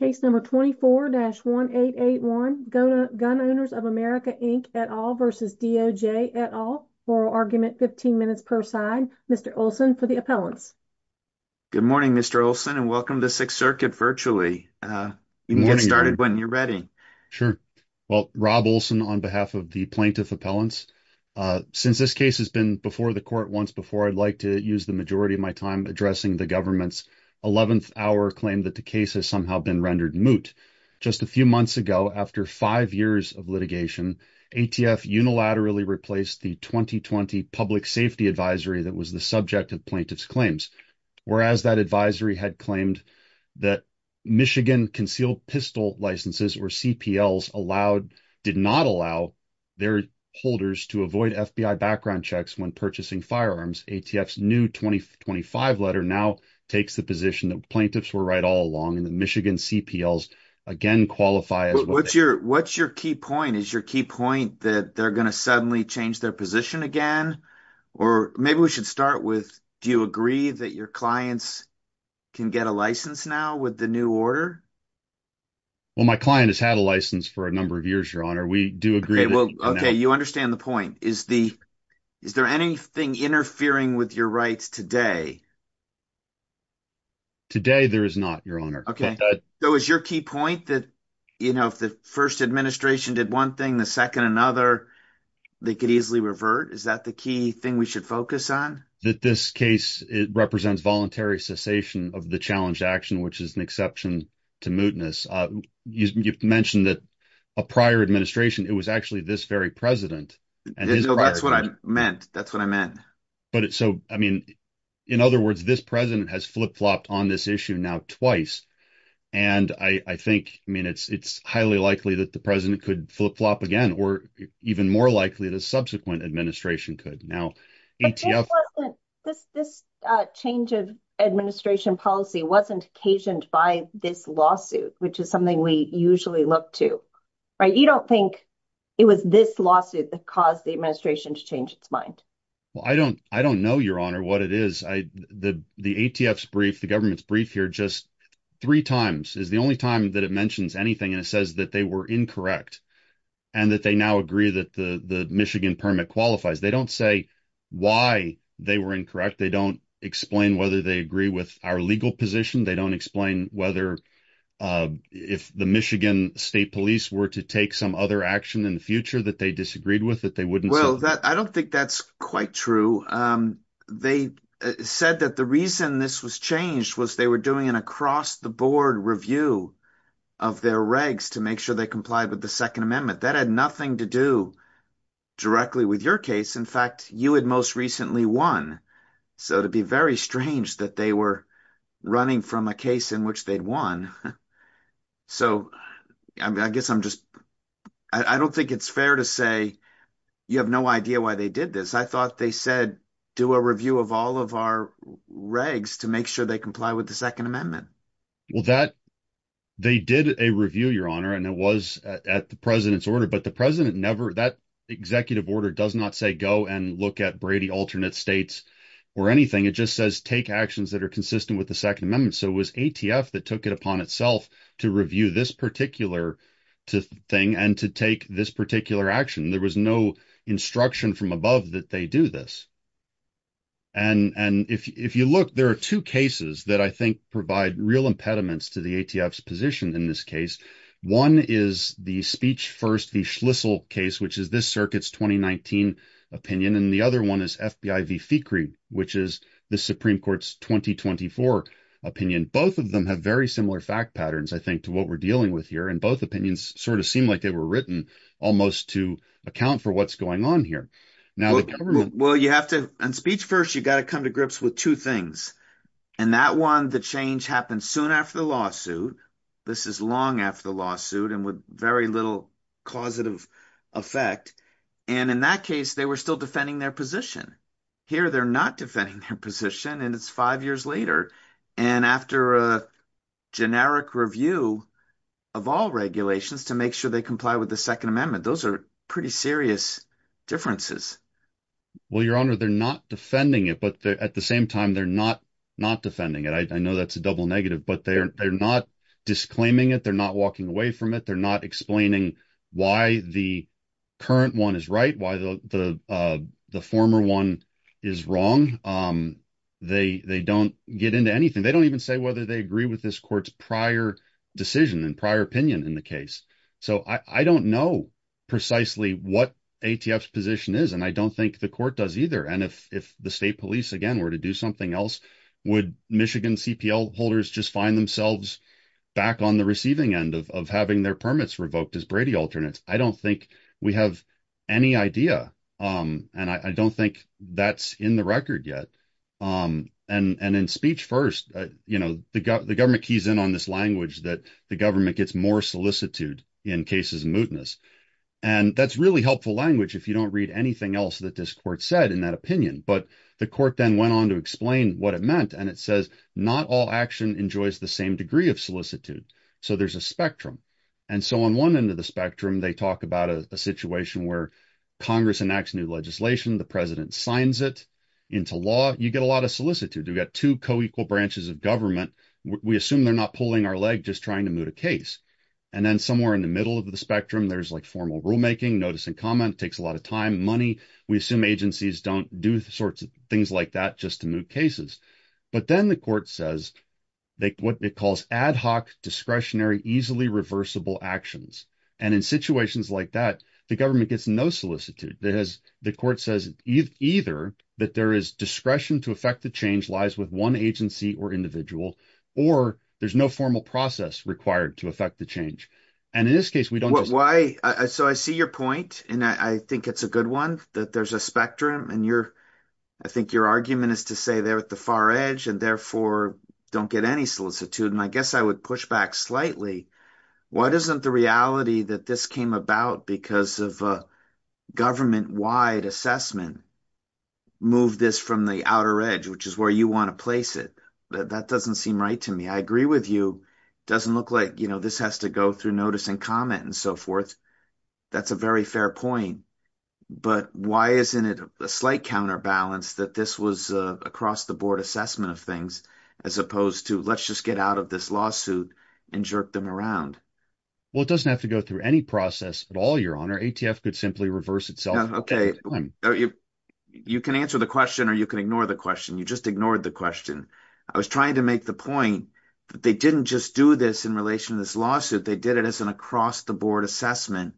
Case number 24-1881, Gun Owners of America Inc. et al. versus DOJ et al. Oral argument, 15 minutes per side. Mr. Olson for the appellants. Good morning, Mr. Olson, and welcome to Sixth Circuit virtually. You can get started when you're ready. Sure. Well, Rob Olson on behalf of the plaintiff appellants. Since this case has been before the court once before, I'd like to use the majority of my time addressing the 11th hour claim that the case has somehow been rendered moot. Just a few months ago, after five years of litigation, ATF unilaterally replaced the 2020 Public Safety Advisory that was the subject of plaintiff's claims. Whereas that advisory had claimed that Michigan concealed pistol licenses or CPLs did not allow their holders to avoid FBI background checks when firearms. ATF's new 2025 letter now takes the position that plaintiffs were right all along and the Michigan CPLs again qualify. What's your key point? Is your key point that they're going to suddenly change their position again? Or maybe we should start with, do you agree that your clients can get a license now with the new order? Well, my client has had a license for a number of interfering with your rights today. Today, there is not, your honor. Okay. So is your key point that if the first administration did one thing, the second another, they could easily revert? Is that the key thing we should focus on? That this case represents voluntary cessation of the challenged action, which is an exception to mootness. You mentioned that a prior administration, it was actually this very president. That's what I meant. That's what I meant. But so, I mean, in other words, this president has flip-flopped on this issue now twice. And I think, I mean, it's highly likely that the president could flip-flop again, or even more likely the subsequent administration could. Now, ATF- This change of administration policy wasn't occasioned by this lawsuit, which is something we usually look to, right? You don't think it was this lawsuit that caused the administration to change its mind? Well, I don't know, your honor, what it is. The ATF's brief, the government's brief here just three times is the only time that it mentions anything. And it says that they were incorrect and that they now agree that the Michigan permit qualifies. They don't say why they were incorrect. They don't explain whether they agree with our legal position. They don't explain whether if the Michigan state police were to take some other action in the future that they disagreed with, that they wouldn't- Well, I don't think that's quite true. They said that the reason this was changed was they were doing an across-the-board review of their regs to make sure they complied with the second amendment. That had nothing to do directly with your case. In fact, you had most recently won. So it'd be very strange that they were running from a case in which they'd won. So I guess I'm just, I don't think it's fair to say you have no idea why they did this. I thought they said, do a review of all of our regs to make sure they comply with the second amendment. Well, that they did a review, your honor. And it was at the president's order, but the president never, that executive order does not say go and look at Brady alternate states or anything. It just says, take actions that are consistent with the second amendment. So it was ATF that took it upon itself to review this particular thing and to take this particular action. There was no instruction from above that they do this. And if you look, there are two cases that I think provide real impediments to the ATF's position in this case. One is the speech first, the Schlissel case, which is this circuit's 2019 opinion. And the other one is FBI v. FICRI, which is the Supreme court's 2024 opinion. Both of them have very similar fact patterns, I think, to what we're dealing with here. And both opinions sort of seem like they were written almost to account for what's going on here. Well, you have to, on speech first, you got to come to grips with two things. And that one, the change happened soon after the lawsuit. This is long after the lawsuit and with very little causative effect. And in that case, they were still defending their position. Here, they're not defending their position and it's five years later. And after a generic review of all regulations to make sure they comply with the second amendment, those are pretty serious differences. Well, your honor, they're not defending it, but at the same time, they're not defending it. I know that's a double negative, but they're not disclaiming it. They're not walking away from it. They're not explaining why the current one is right, why the former one is wrong. They don't get into anything. They don't even say whether they agree with this court's prior decision and prior opinion in the case. So I don't know precisely what ATF's position is. And I don't think the court does either. And if the state police, again, were to do something else, would Michigan CPL holders just find themselves back on the receiving end of having their permits revoked as Brady alternates? I don't think we have any idea. And I don't think that's in the record yet. And in speech first, the government keys in on this language that the government gets more solicitude in cases of mootness. And that's really helpful language if you don't read anything else that this court said in that opinion. But the court then went on to explain what it meant. And it says, not all action enjoys the same degree of solicitude. So there's a spectrum. And so on one end of the spectrum, they talk about a situation where Congress enacts new legislation. The president signs it into law. You get a lot of solicitude. You've got two co-equal branches of government. We assume they're not pulling our leg, just trying to moot a case. And then somewhere in the middle of the spectrum, there's like formal rulemaking, notice and comment. It takes a lot of time, money. We assume agencies don't do sorts of things like that just to moot cases. But then the court says what it calls ad hoc, discretionary, easily reversible actions. And in situations like that, the government gets no solicitude. The court says either that there is discretion to affect the change lies with one agency or individual, or there's no formal process required to affect the change. And in this case, we don't just- And I think it's a good one that there's a spectrum. And I think your argument is to say they're at the far edge and therefore don't get any solicitude. And I guess I would push back slightly. Why doesn't the reality that this came about because of a government-wide assessment move this from the outer edge, which is where you want to place it? That doesn't seem right to me. I agree with you. It doesn't look like this has to go through notice and comment and so forth. That's a very fair point. But why isn't it a slight counterbalance that this was across-the-board assessment of things as opposed to let's just get out of this lawsuit and jerk them around? Well, it doesn't have to go through any process at all, Your Honor. ATF could simply reverse itself. Okay. You can answer the question or you can ignore the question. You just ignored the question. I was trying to make the point that they didn't just do this in relation to this lawsuit. They did it as an across-the-board assessment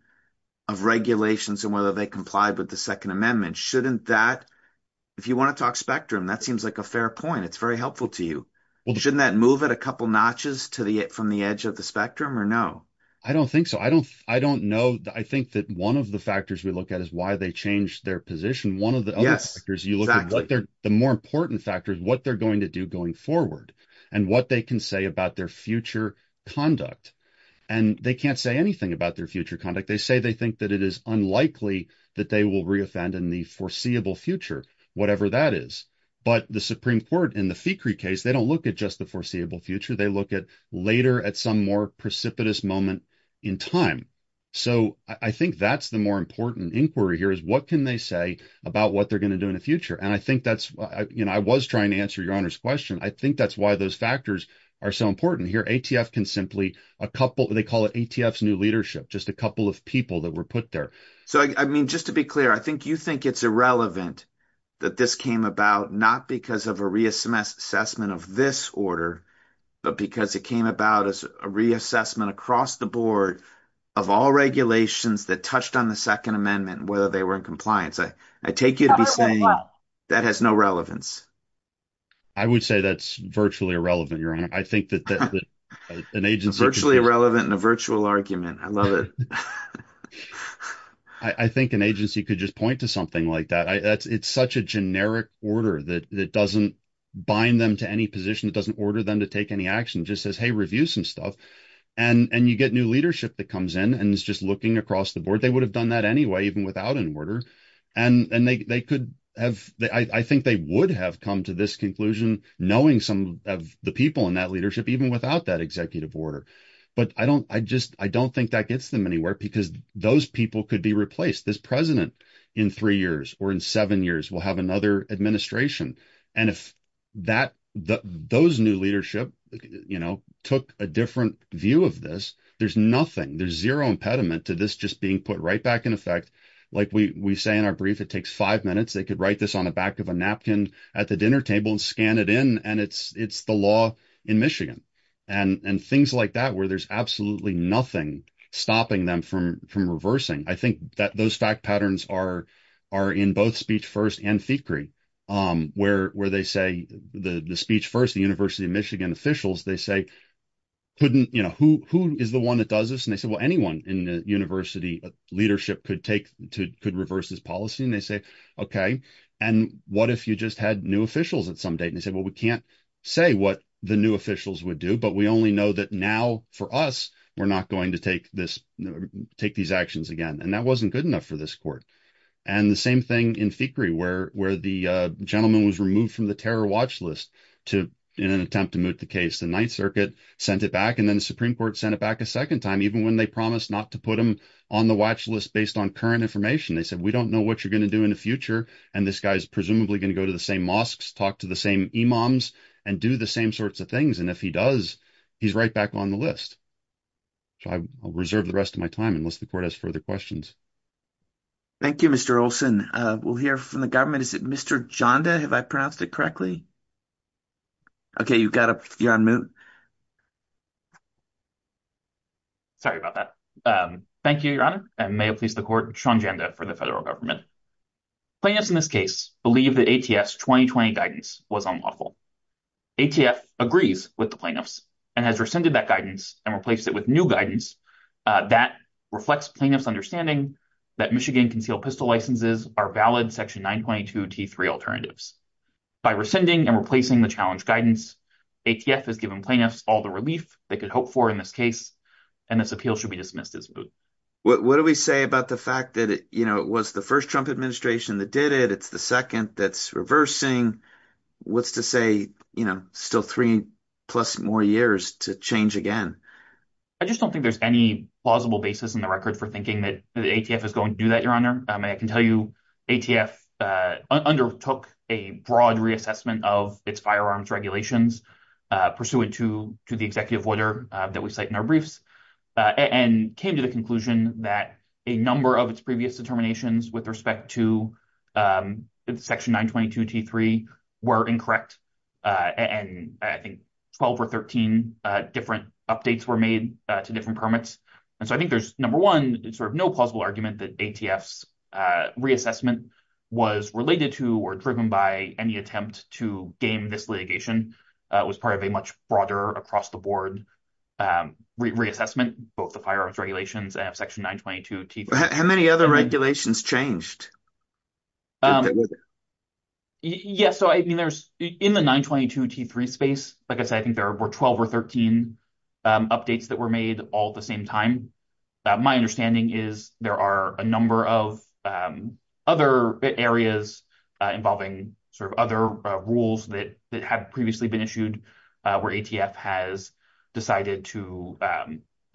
of regulations and whether they complied with the Second Amendment. If you want to talk spectrum, that seems like a fair point. It's very helpful to you. Shouldn't that move it a couple notches from the edge of the spectrum or no? I don't think so. I think that one of the factors we look at is why they changed their position. One of the other factors you look at, the more important factor is what they're going to do forward and what they can say about their future conduct. They can't say anything about their future conduct. They say they think that it is unlikely that they will re-offend in the foreseeable future, whatever that is. But the Supreme Court in the Fecree case, they don't look at just the foreseeable future. They look at later at some more precipitous moment in time. I think that's the more important inquiry here is what can they say about what they're going to do in the future? You know, I was trying to answer your Honor's question. I think that's why those factors are so important here. ATF can simply a couple, they call it ATF's new leadership, just a couple of people that were put there. So, I mean, just to be clear, I think you think it's irrelevant that this came about, not because of a reassessment of this order, but because it came about as a reassessment across the board of all regulations that touched on the Second Amendment, whether they were in compliance. I take you to be saying that has no relevance. I would say that's virtually irrelevant, Your Honor. I think that an agency- Virtually irrelevant in a virtual argument. I love it. I think an agency could just point to something like that. It's such a generic order that doesn't bind them to any position. It doesn't order them to take any action. It just says, hey, review some stuff. And you get new leadership that comes in and is just looking across the And I think they would have come to this conclusion knowing some of the people in that leadership, even without that executive order. But I don't think that gets them anywhere because those people could be replaced. This president in three years or in seven years will have another administration. And if those new leadership took a different view of this, there's nothing, there's zero impediment to this just being put right back in effect. Like we say in our brief, it takes five minutes. They could write this on the back of a napkin at the dinner table and scan it in. And it's the law in Michigan. And things like that, where there's absolutely nothing stopping them from reversing. I think that those fact patterns are in both Speech First and FECRE, where they say the Speech First, the University of Michigan they say, who is the one that does this? And they said, well, anyone in the university leadership could reverse this policy. And they say, okay, and what if you just had new officials at some date? And they said, well, we can't say what the new officials would do, but we only know that now for us, we're not going to take these actions again. And that wasn't good enough for this court. And the same thing in FECRE where the gentleman was removed from the terror watch list in an attempt to moot the case. The Ninth Circuit sent it back and then the Supreme Court sent it back a second time, even when they promised not to put them on the watch list based on current information. They said, we don't know what you're going to do in the future. And this guy's presumably going to go to the same mosques, talk to the same imams and do the same sorts of things. And if he does, he's right back on the list. So I'll reserve the rest of my time unless the court has further questions. Thank you, Mr. Olson. We'll hear from the government. Is it Mr. Janda, have I pronounced it correctly? Okay, you got it. You're on mute. Sorry about that. Thank you, Your Honor. And may it please the court, Sean Janda for the federal government. Plaintiffs in this case believe that ATS 2020 guidance was unlawful. ATF agrees with the plaintiffs and has rescinded that guidance and replaced it with new guidance that reflects plaintiffs' understanding that Michigan concealed pistol licenses are valid Section 922 T3 alternatives. By rescinding and replacing the challenge guidance, ATF has given plaintiffs all the relief they could hope for in this case, and this appeal should be dismissed as moot. What do we say about the fact that it was the first Trump administration that did it, it's the second that's reversing, what's to say, still three plus more years to change again? I just don't think there's any plausible basis in the record for thinking that ATF is going to do that, Your Honor. I can tell you, ATF undertook a broad reassessment of its firearms regulations pursuant to the executive order that we cite in our briefs, and came to the conclusion that a number of its previous determinations with respect to Section 922 T3 were incorrect. And I think 12 or 13 different updates were made to different permits. And so I think there's, number one, sort of no plausible argument that ATF's reassessment was related to or driven by any attempt to game this litigation. It was part of a much broader across the board reassessment, both the firearms regulations and of Section 922 T3. How many other regulations changed? Yeah, so I mean, there's, in the 922 T3 space, like I said, I think there were 12 or 13 updates that were made all at the same time. My understanding is there are a number of other areas involving sort of other rules that had previously been issued, where ATF has decided to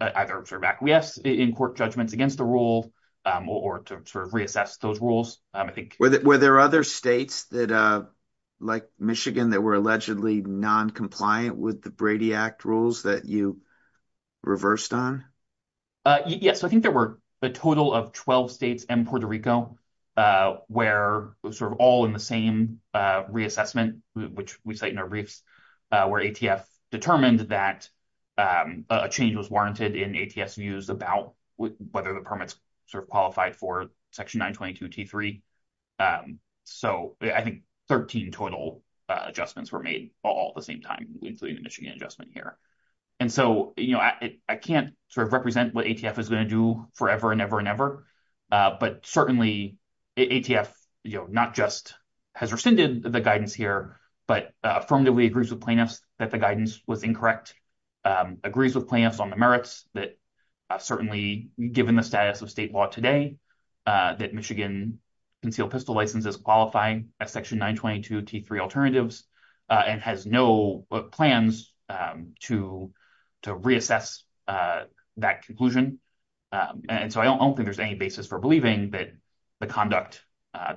either sort of acquiesce in court judgments against the rule, or to sort of Were there other states that, like Michigan, that were allegedly non-compliant with the Brady Act rules that you reversed on? Yes, I think there were a total of 12 states and Puerto Rico, where sort of all in the same reassessment, which we cite in our briefs, where ATF determined that a change was warranted in ATF's views about whether the qualified for Section 922 T3. So I think 13 total adjustments were made all at the same time, including the Michigan adjustment here. And so, you know, I can't sort of represent what ATF is going to do forever and ever and ever. But certainly, ATF, you know, not just has rescinded the guidance here, but affirmatively agrees with plaintiffs that the guidance was incorrect, agrees with plaintiffs on the merits that certainly, given the status of state law today, that Michigan concealed pistol license is qualifying as Section 922 T3 alternatives, and has no plans to reassess that conclusion. And so I don't think there's any basis for believing that the conduct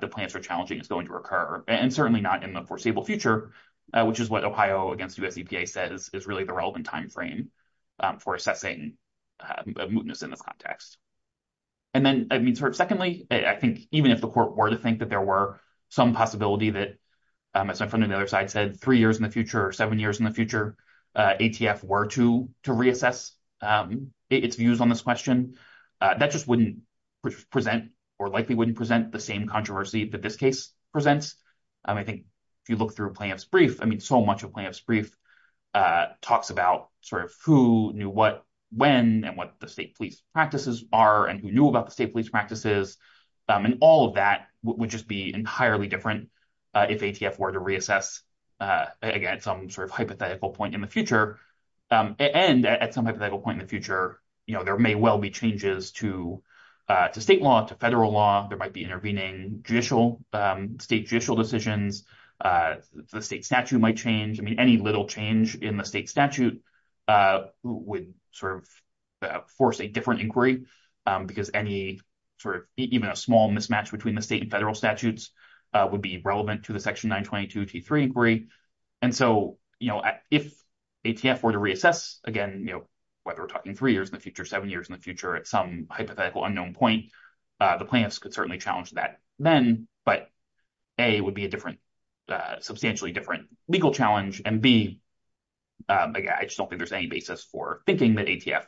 the plaintiffs are challenging is going to occur, and certainly not in the foreseeable future, which is what Ohio against U.S. EPA says is really the relevant timeframe for assessing mootness in this context. And then, I mean, sort of secondly, I think even if the court were to think that there were some possibility that, as my friend on the other side said, three years in the future or seven years in the future, ATF were to reassess its views on this question, that just wouldn't present or likely wouldn't present the same controversy that this presents. I think if you look through plaintiff's brief, I mean, so much of plaintiff's brief talks about sort of who knew what, when, and what the state police practices are, and who knew about the state police practices, and all of that would just be entirely different if ATF were to reassess, again, some sort of hypothetical point in the future. And at some hypothetical point in the future, you know, there may well be changes to state law, to federal law. There might be intervening judicial, state judicial decisions. The state statute might change. I mean, any little change in the state statute would sort of force a different inquiry, because any sort of, even a small mismatch between the state and federal statutes would be relevant to the Section 922 T3 inquiry. And so, you know, if ATF were to reassess, again, you know, whether we're talking three years in the future, seven years in the future, at some hypothetical unknown point, the plaintiffs could certainly challenge that then. But A, it would be a different, substantially different legal challenge. And B, I just don't think there's any basis for thinking that ATF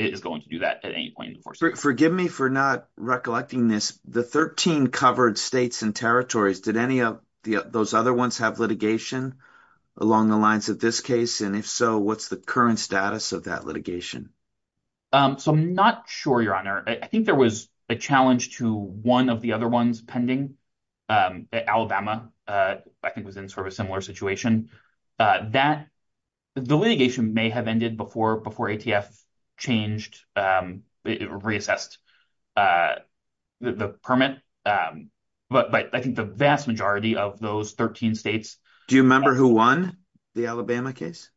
is going to do that at any point in the course. Forgive me for not recollecting this. The 13 covered states and territories, did any of those other ones have litigation along the lines of this case? And if so, what's the current status of that litigation? So I'm not sure, Your Honor. I think there was a challenge to one of the other ones pending. Alabama, I think, was in sort of a similar situation. That, the litigation may have ended before ATF changed, reassessed the permit. But I think the vast majority of those 13 states- Do you remember who won the Alabama case?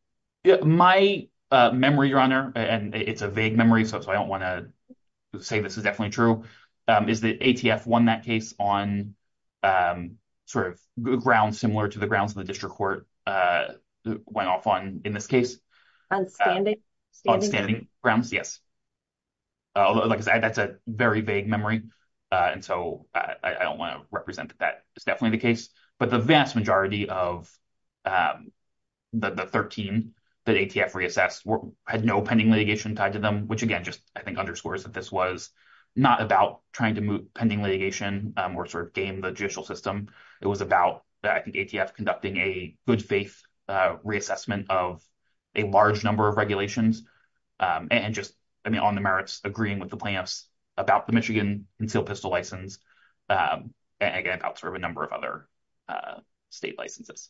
My memory, Your Honor, and it's a vague memory, so I don't want to say this is definitely true, is that ATF won that case on sort of grounds similar to the grounds of the district court went off on in this case. On standing? On standing grounds, yes. Like I said, that's a very vague memory. And so I don't want to that ATF reassessed, had no pending litigation tied to them, which, again, just, I think, underscores that this was not about trying to move pending litigation or sort of game the judicial system. It was about, I think, ATF conducting a good faith reassessment of a large number of regulations. And just, I mean, on the merits, agreeing with the plaintiffs about the Michigan concealed pistol license. And again, about sort of a number of other state licenses.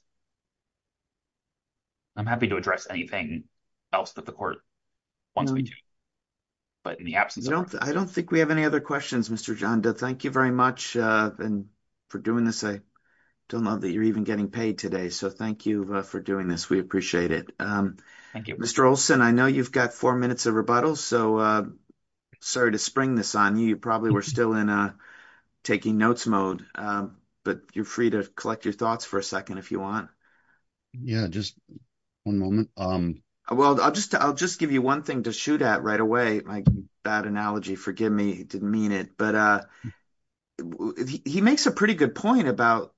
I'm happy to address anything else that the court wants me to, but in the absence of- I don't think we have any other questions, Mr. Janda. Thank you very much for doing this. I don't know that you're even getting paid today, so thank you for doing this. We appreciate it. Thank you. Mr. Olson, I know you've got four minutes of rebuttal, so sorry to spring this on you. You probably were still in a taking notes mode, but you're free to collect your thoughts for a second if you want. Yeah, just one moment. Well, I'll just give you one thing to shoot at right away. My bad analogy, forgive me, didn't mean it. But he makes a pretty good point about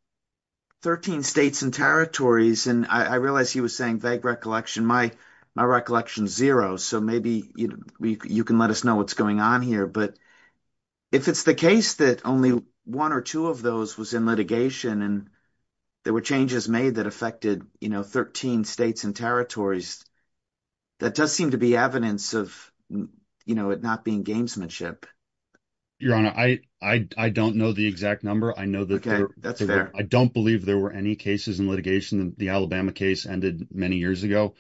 13 states and territories. And I realized he was saying vague recollection. My recollection's zero, so maybe you can let us know what's going on here. But if it's the case that only one or two of those was in litigation and there were changes made that affected 13 states and territories, that does seem to be evidence of it not being gamesmanship. Your Honor, I don't know the exact number. I know that- I don't believe there were any cases in litigation. The Alabama case ended many years ago.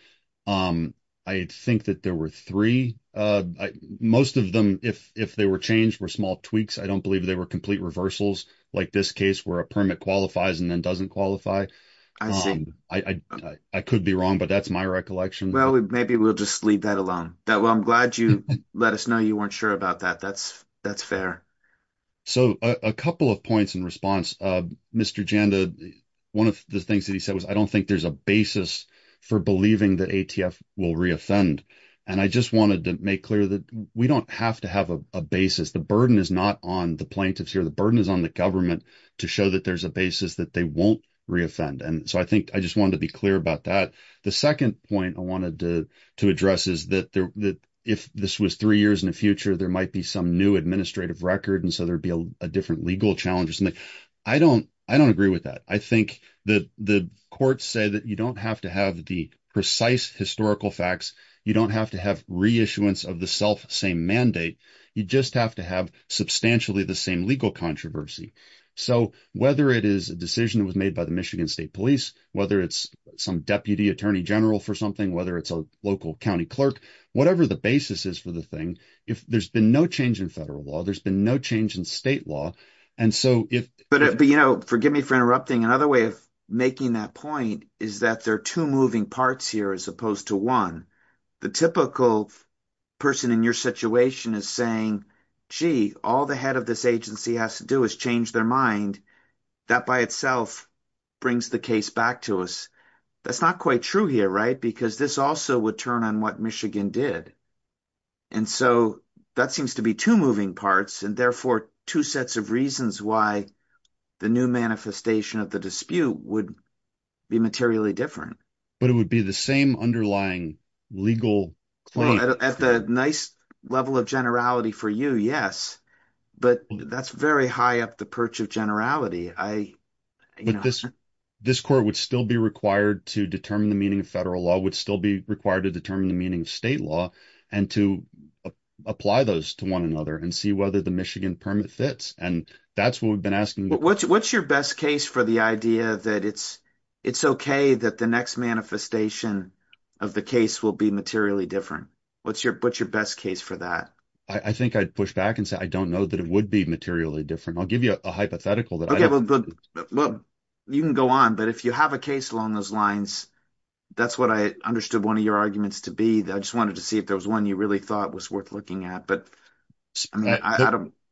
I think that there were three. Most of them, if they were changed, were small tweaks. I don't believe they were complete reversals like this case where a permit qualifies and then doesn't qualify. I could be wrong, but that's my recollection. Well, maybe we'll just leave that alone. Well, I'm glad you let us know you weren't sure about that. That's fair. So a couple of points in response. Mr. Janda, one of the things that he said was, I don't think there's a basis for believing that ATF will re-offend. And I just wanted to make we don't have to have a basis. The burden is not on the plaintiffs here. The burden is on the government to show that there's a basis that they won't re-offend. And so I think I just wanted to be clear about that. The second point I wanted to address is that if this was three years in the future, there might be some new administrative record. And so there'd be a different legal challenge or something. I don't agree with that. I think the courts say that you don't have to have the precise historical facts. You don't have to have reissuance of the self same mandate. You just have to have substantially the same legal controversy. So whether it is a decision that was made by the Michigan State Police, whether it's some deputy attorney general for something, whether it's a local county clerk, whatever the basis is for the thing, if there's been no change in federal law, there's been no change in state law. And so if... But forgive me for interrupting. Another way of making that point is that there are two moving parts here as opposed to one. The typical person in your situation is saying, gee, all the head of this agency has to do is change their mind. That by itself brings the case back to us. That's not quite true here, right? Because this also would turn on what Michigan did. And so that seems to be two moving parts and therefore two sets of reasons why the new manifestation of the dispute would be materially different. But it would be the same underlying legal claim. At the nice level of generality for you, yes. But that's very high up the perch of generality. This court would still be required to determine the meaning of federal law, would still be to determine the meaning of state law, and to apply those to one another and see whether the Michigan permit fits. And that's what we've been asking. What's your best case for the idea that it's okay that the next manifestation of the case will be materially different? What's your best case for that? I think I'd push back and say, I don't know that it would be materially different. I'll give you a hypothetical. Okay, well, you can go on. But if you have a case along those lines, that's what I understood one of your arguments to be. I just wanted to see if there was one you really thought was worth looking at. But I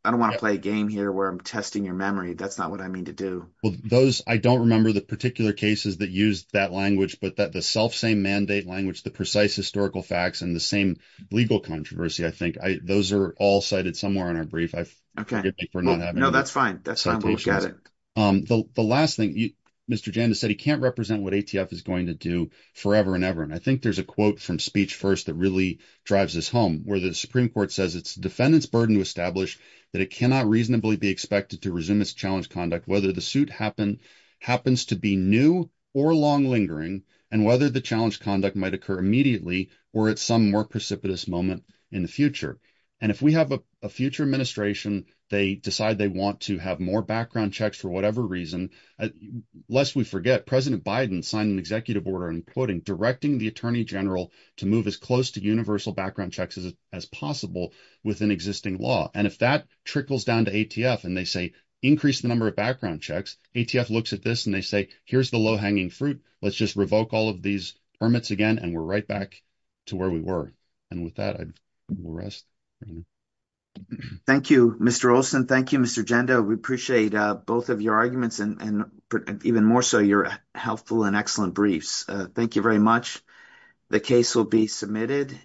don't want to play a game here where I'm testing your memory. That's not what I mean to do. Well, those, I don't remember the particular cases that used that language, but that the self-same mandate language, the precise historical facts, and the same legal controversy, I think those are all cited somewhere in our brief. I forget if we're not having that. No, that's fine. That's fine. We'll look at it. The last thing, Mr. Janda said can't represent what ATF is going to do forever and ever. And I think there's a quote from Speech First that really drives this home where the Supreme Court says it's defendant's burden to establish that it cannot reasonably be expected to resume its challenge conduct, whether the suit happens to be new or long lingering, and whether the challenge conduct might occur immediately or at some more precipitous moment in the future. And if we have a future administration, they decide they want to have more background checks for whatever reason, lest we forget, President Biden signed an executive order, including directing the Attorney General to move as close to universal background checks as possible within existing law. And if that trickles down to ATF and they say, increase the number of background checks, ATF looks at this and they say, here's the low-hanging fruit. Let's just revoke all of these permits again. And we're right back to where we were. And with that, I will rest. Thank you, Mr. Olson. Thank you, Mr. Gendo. We appreciate both of your arguments and even more so your helpful and excellent briefs. Thank you very much. The case will be submitted.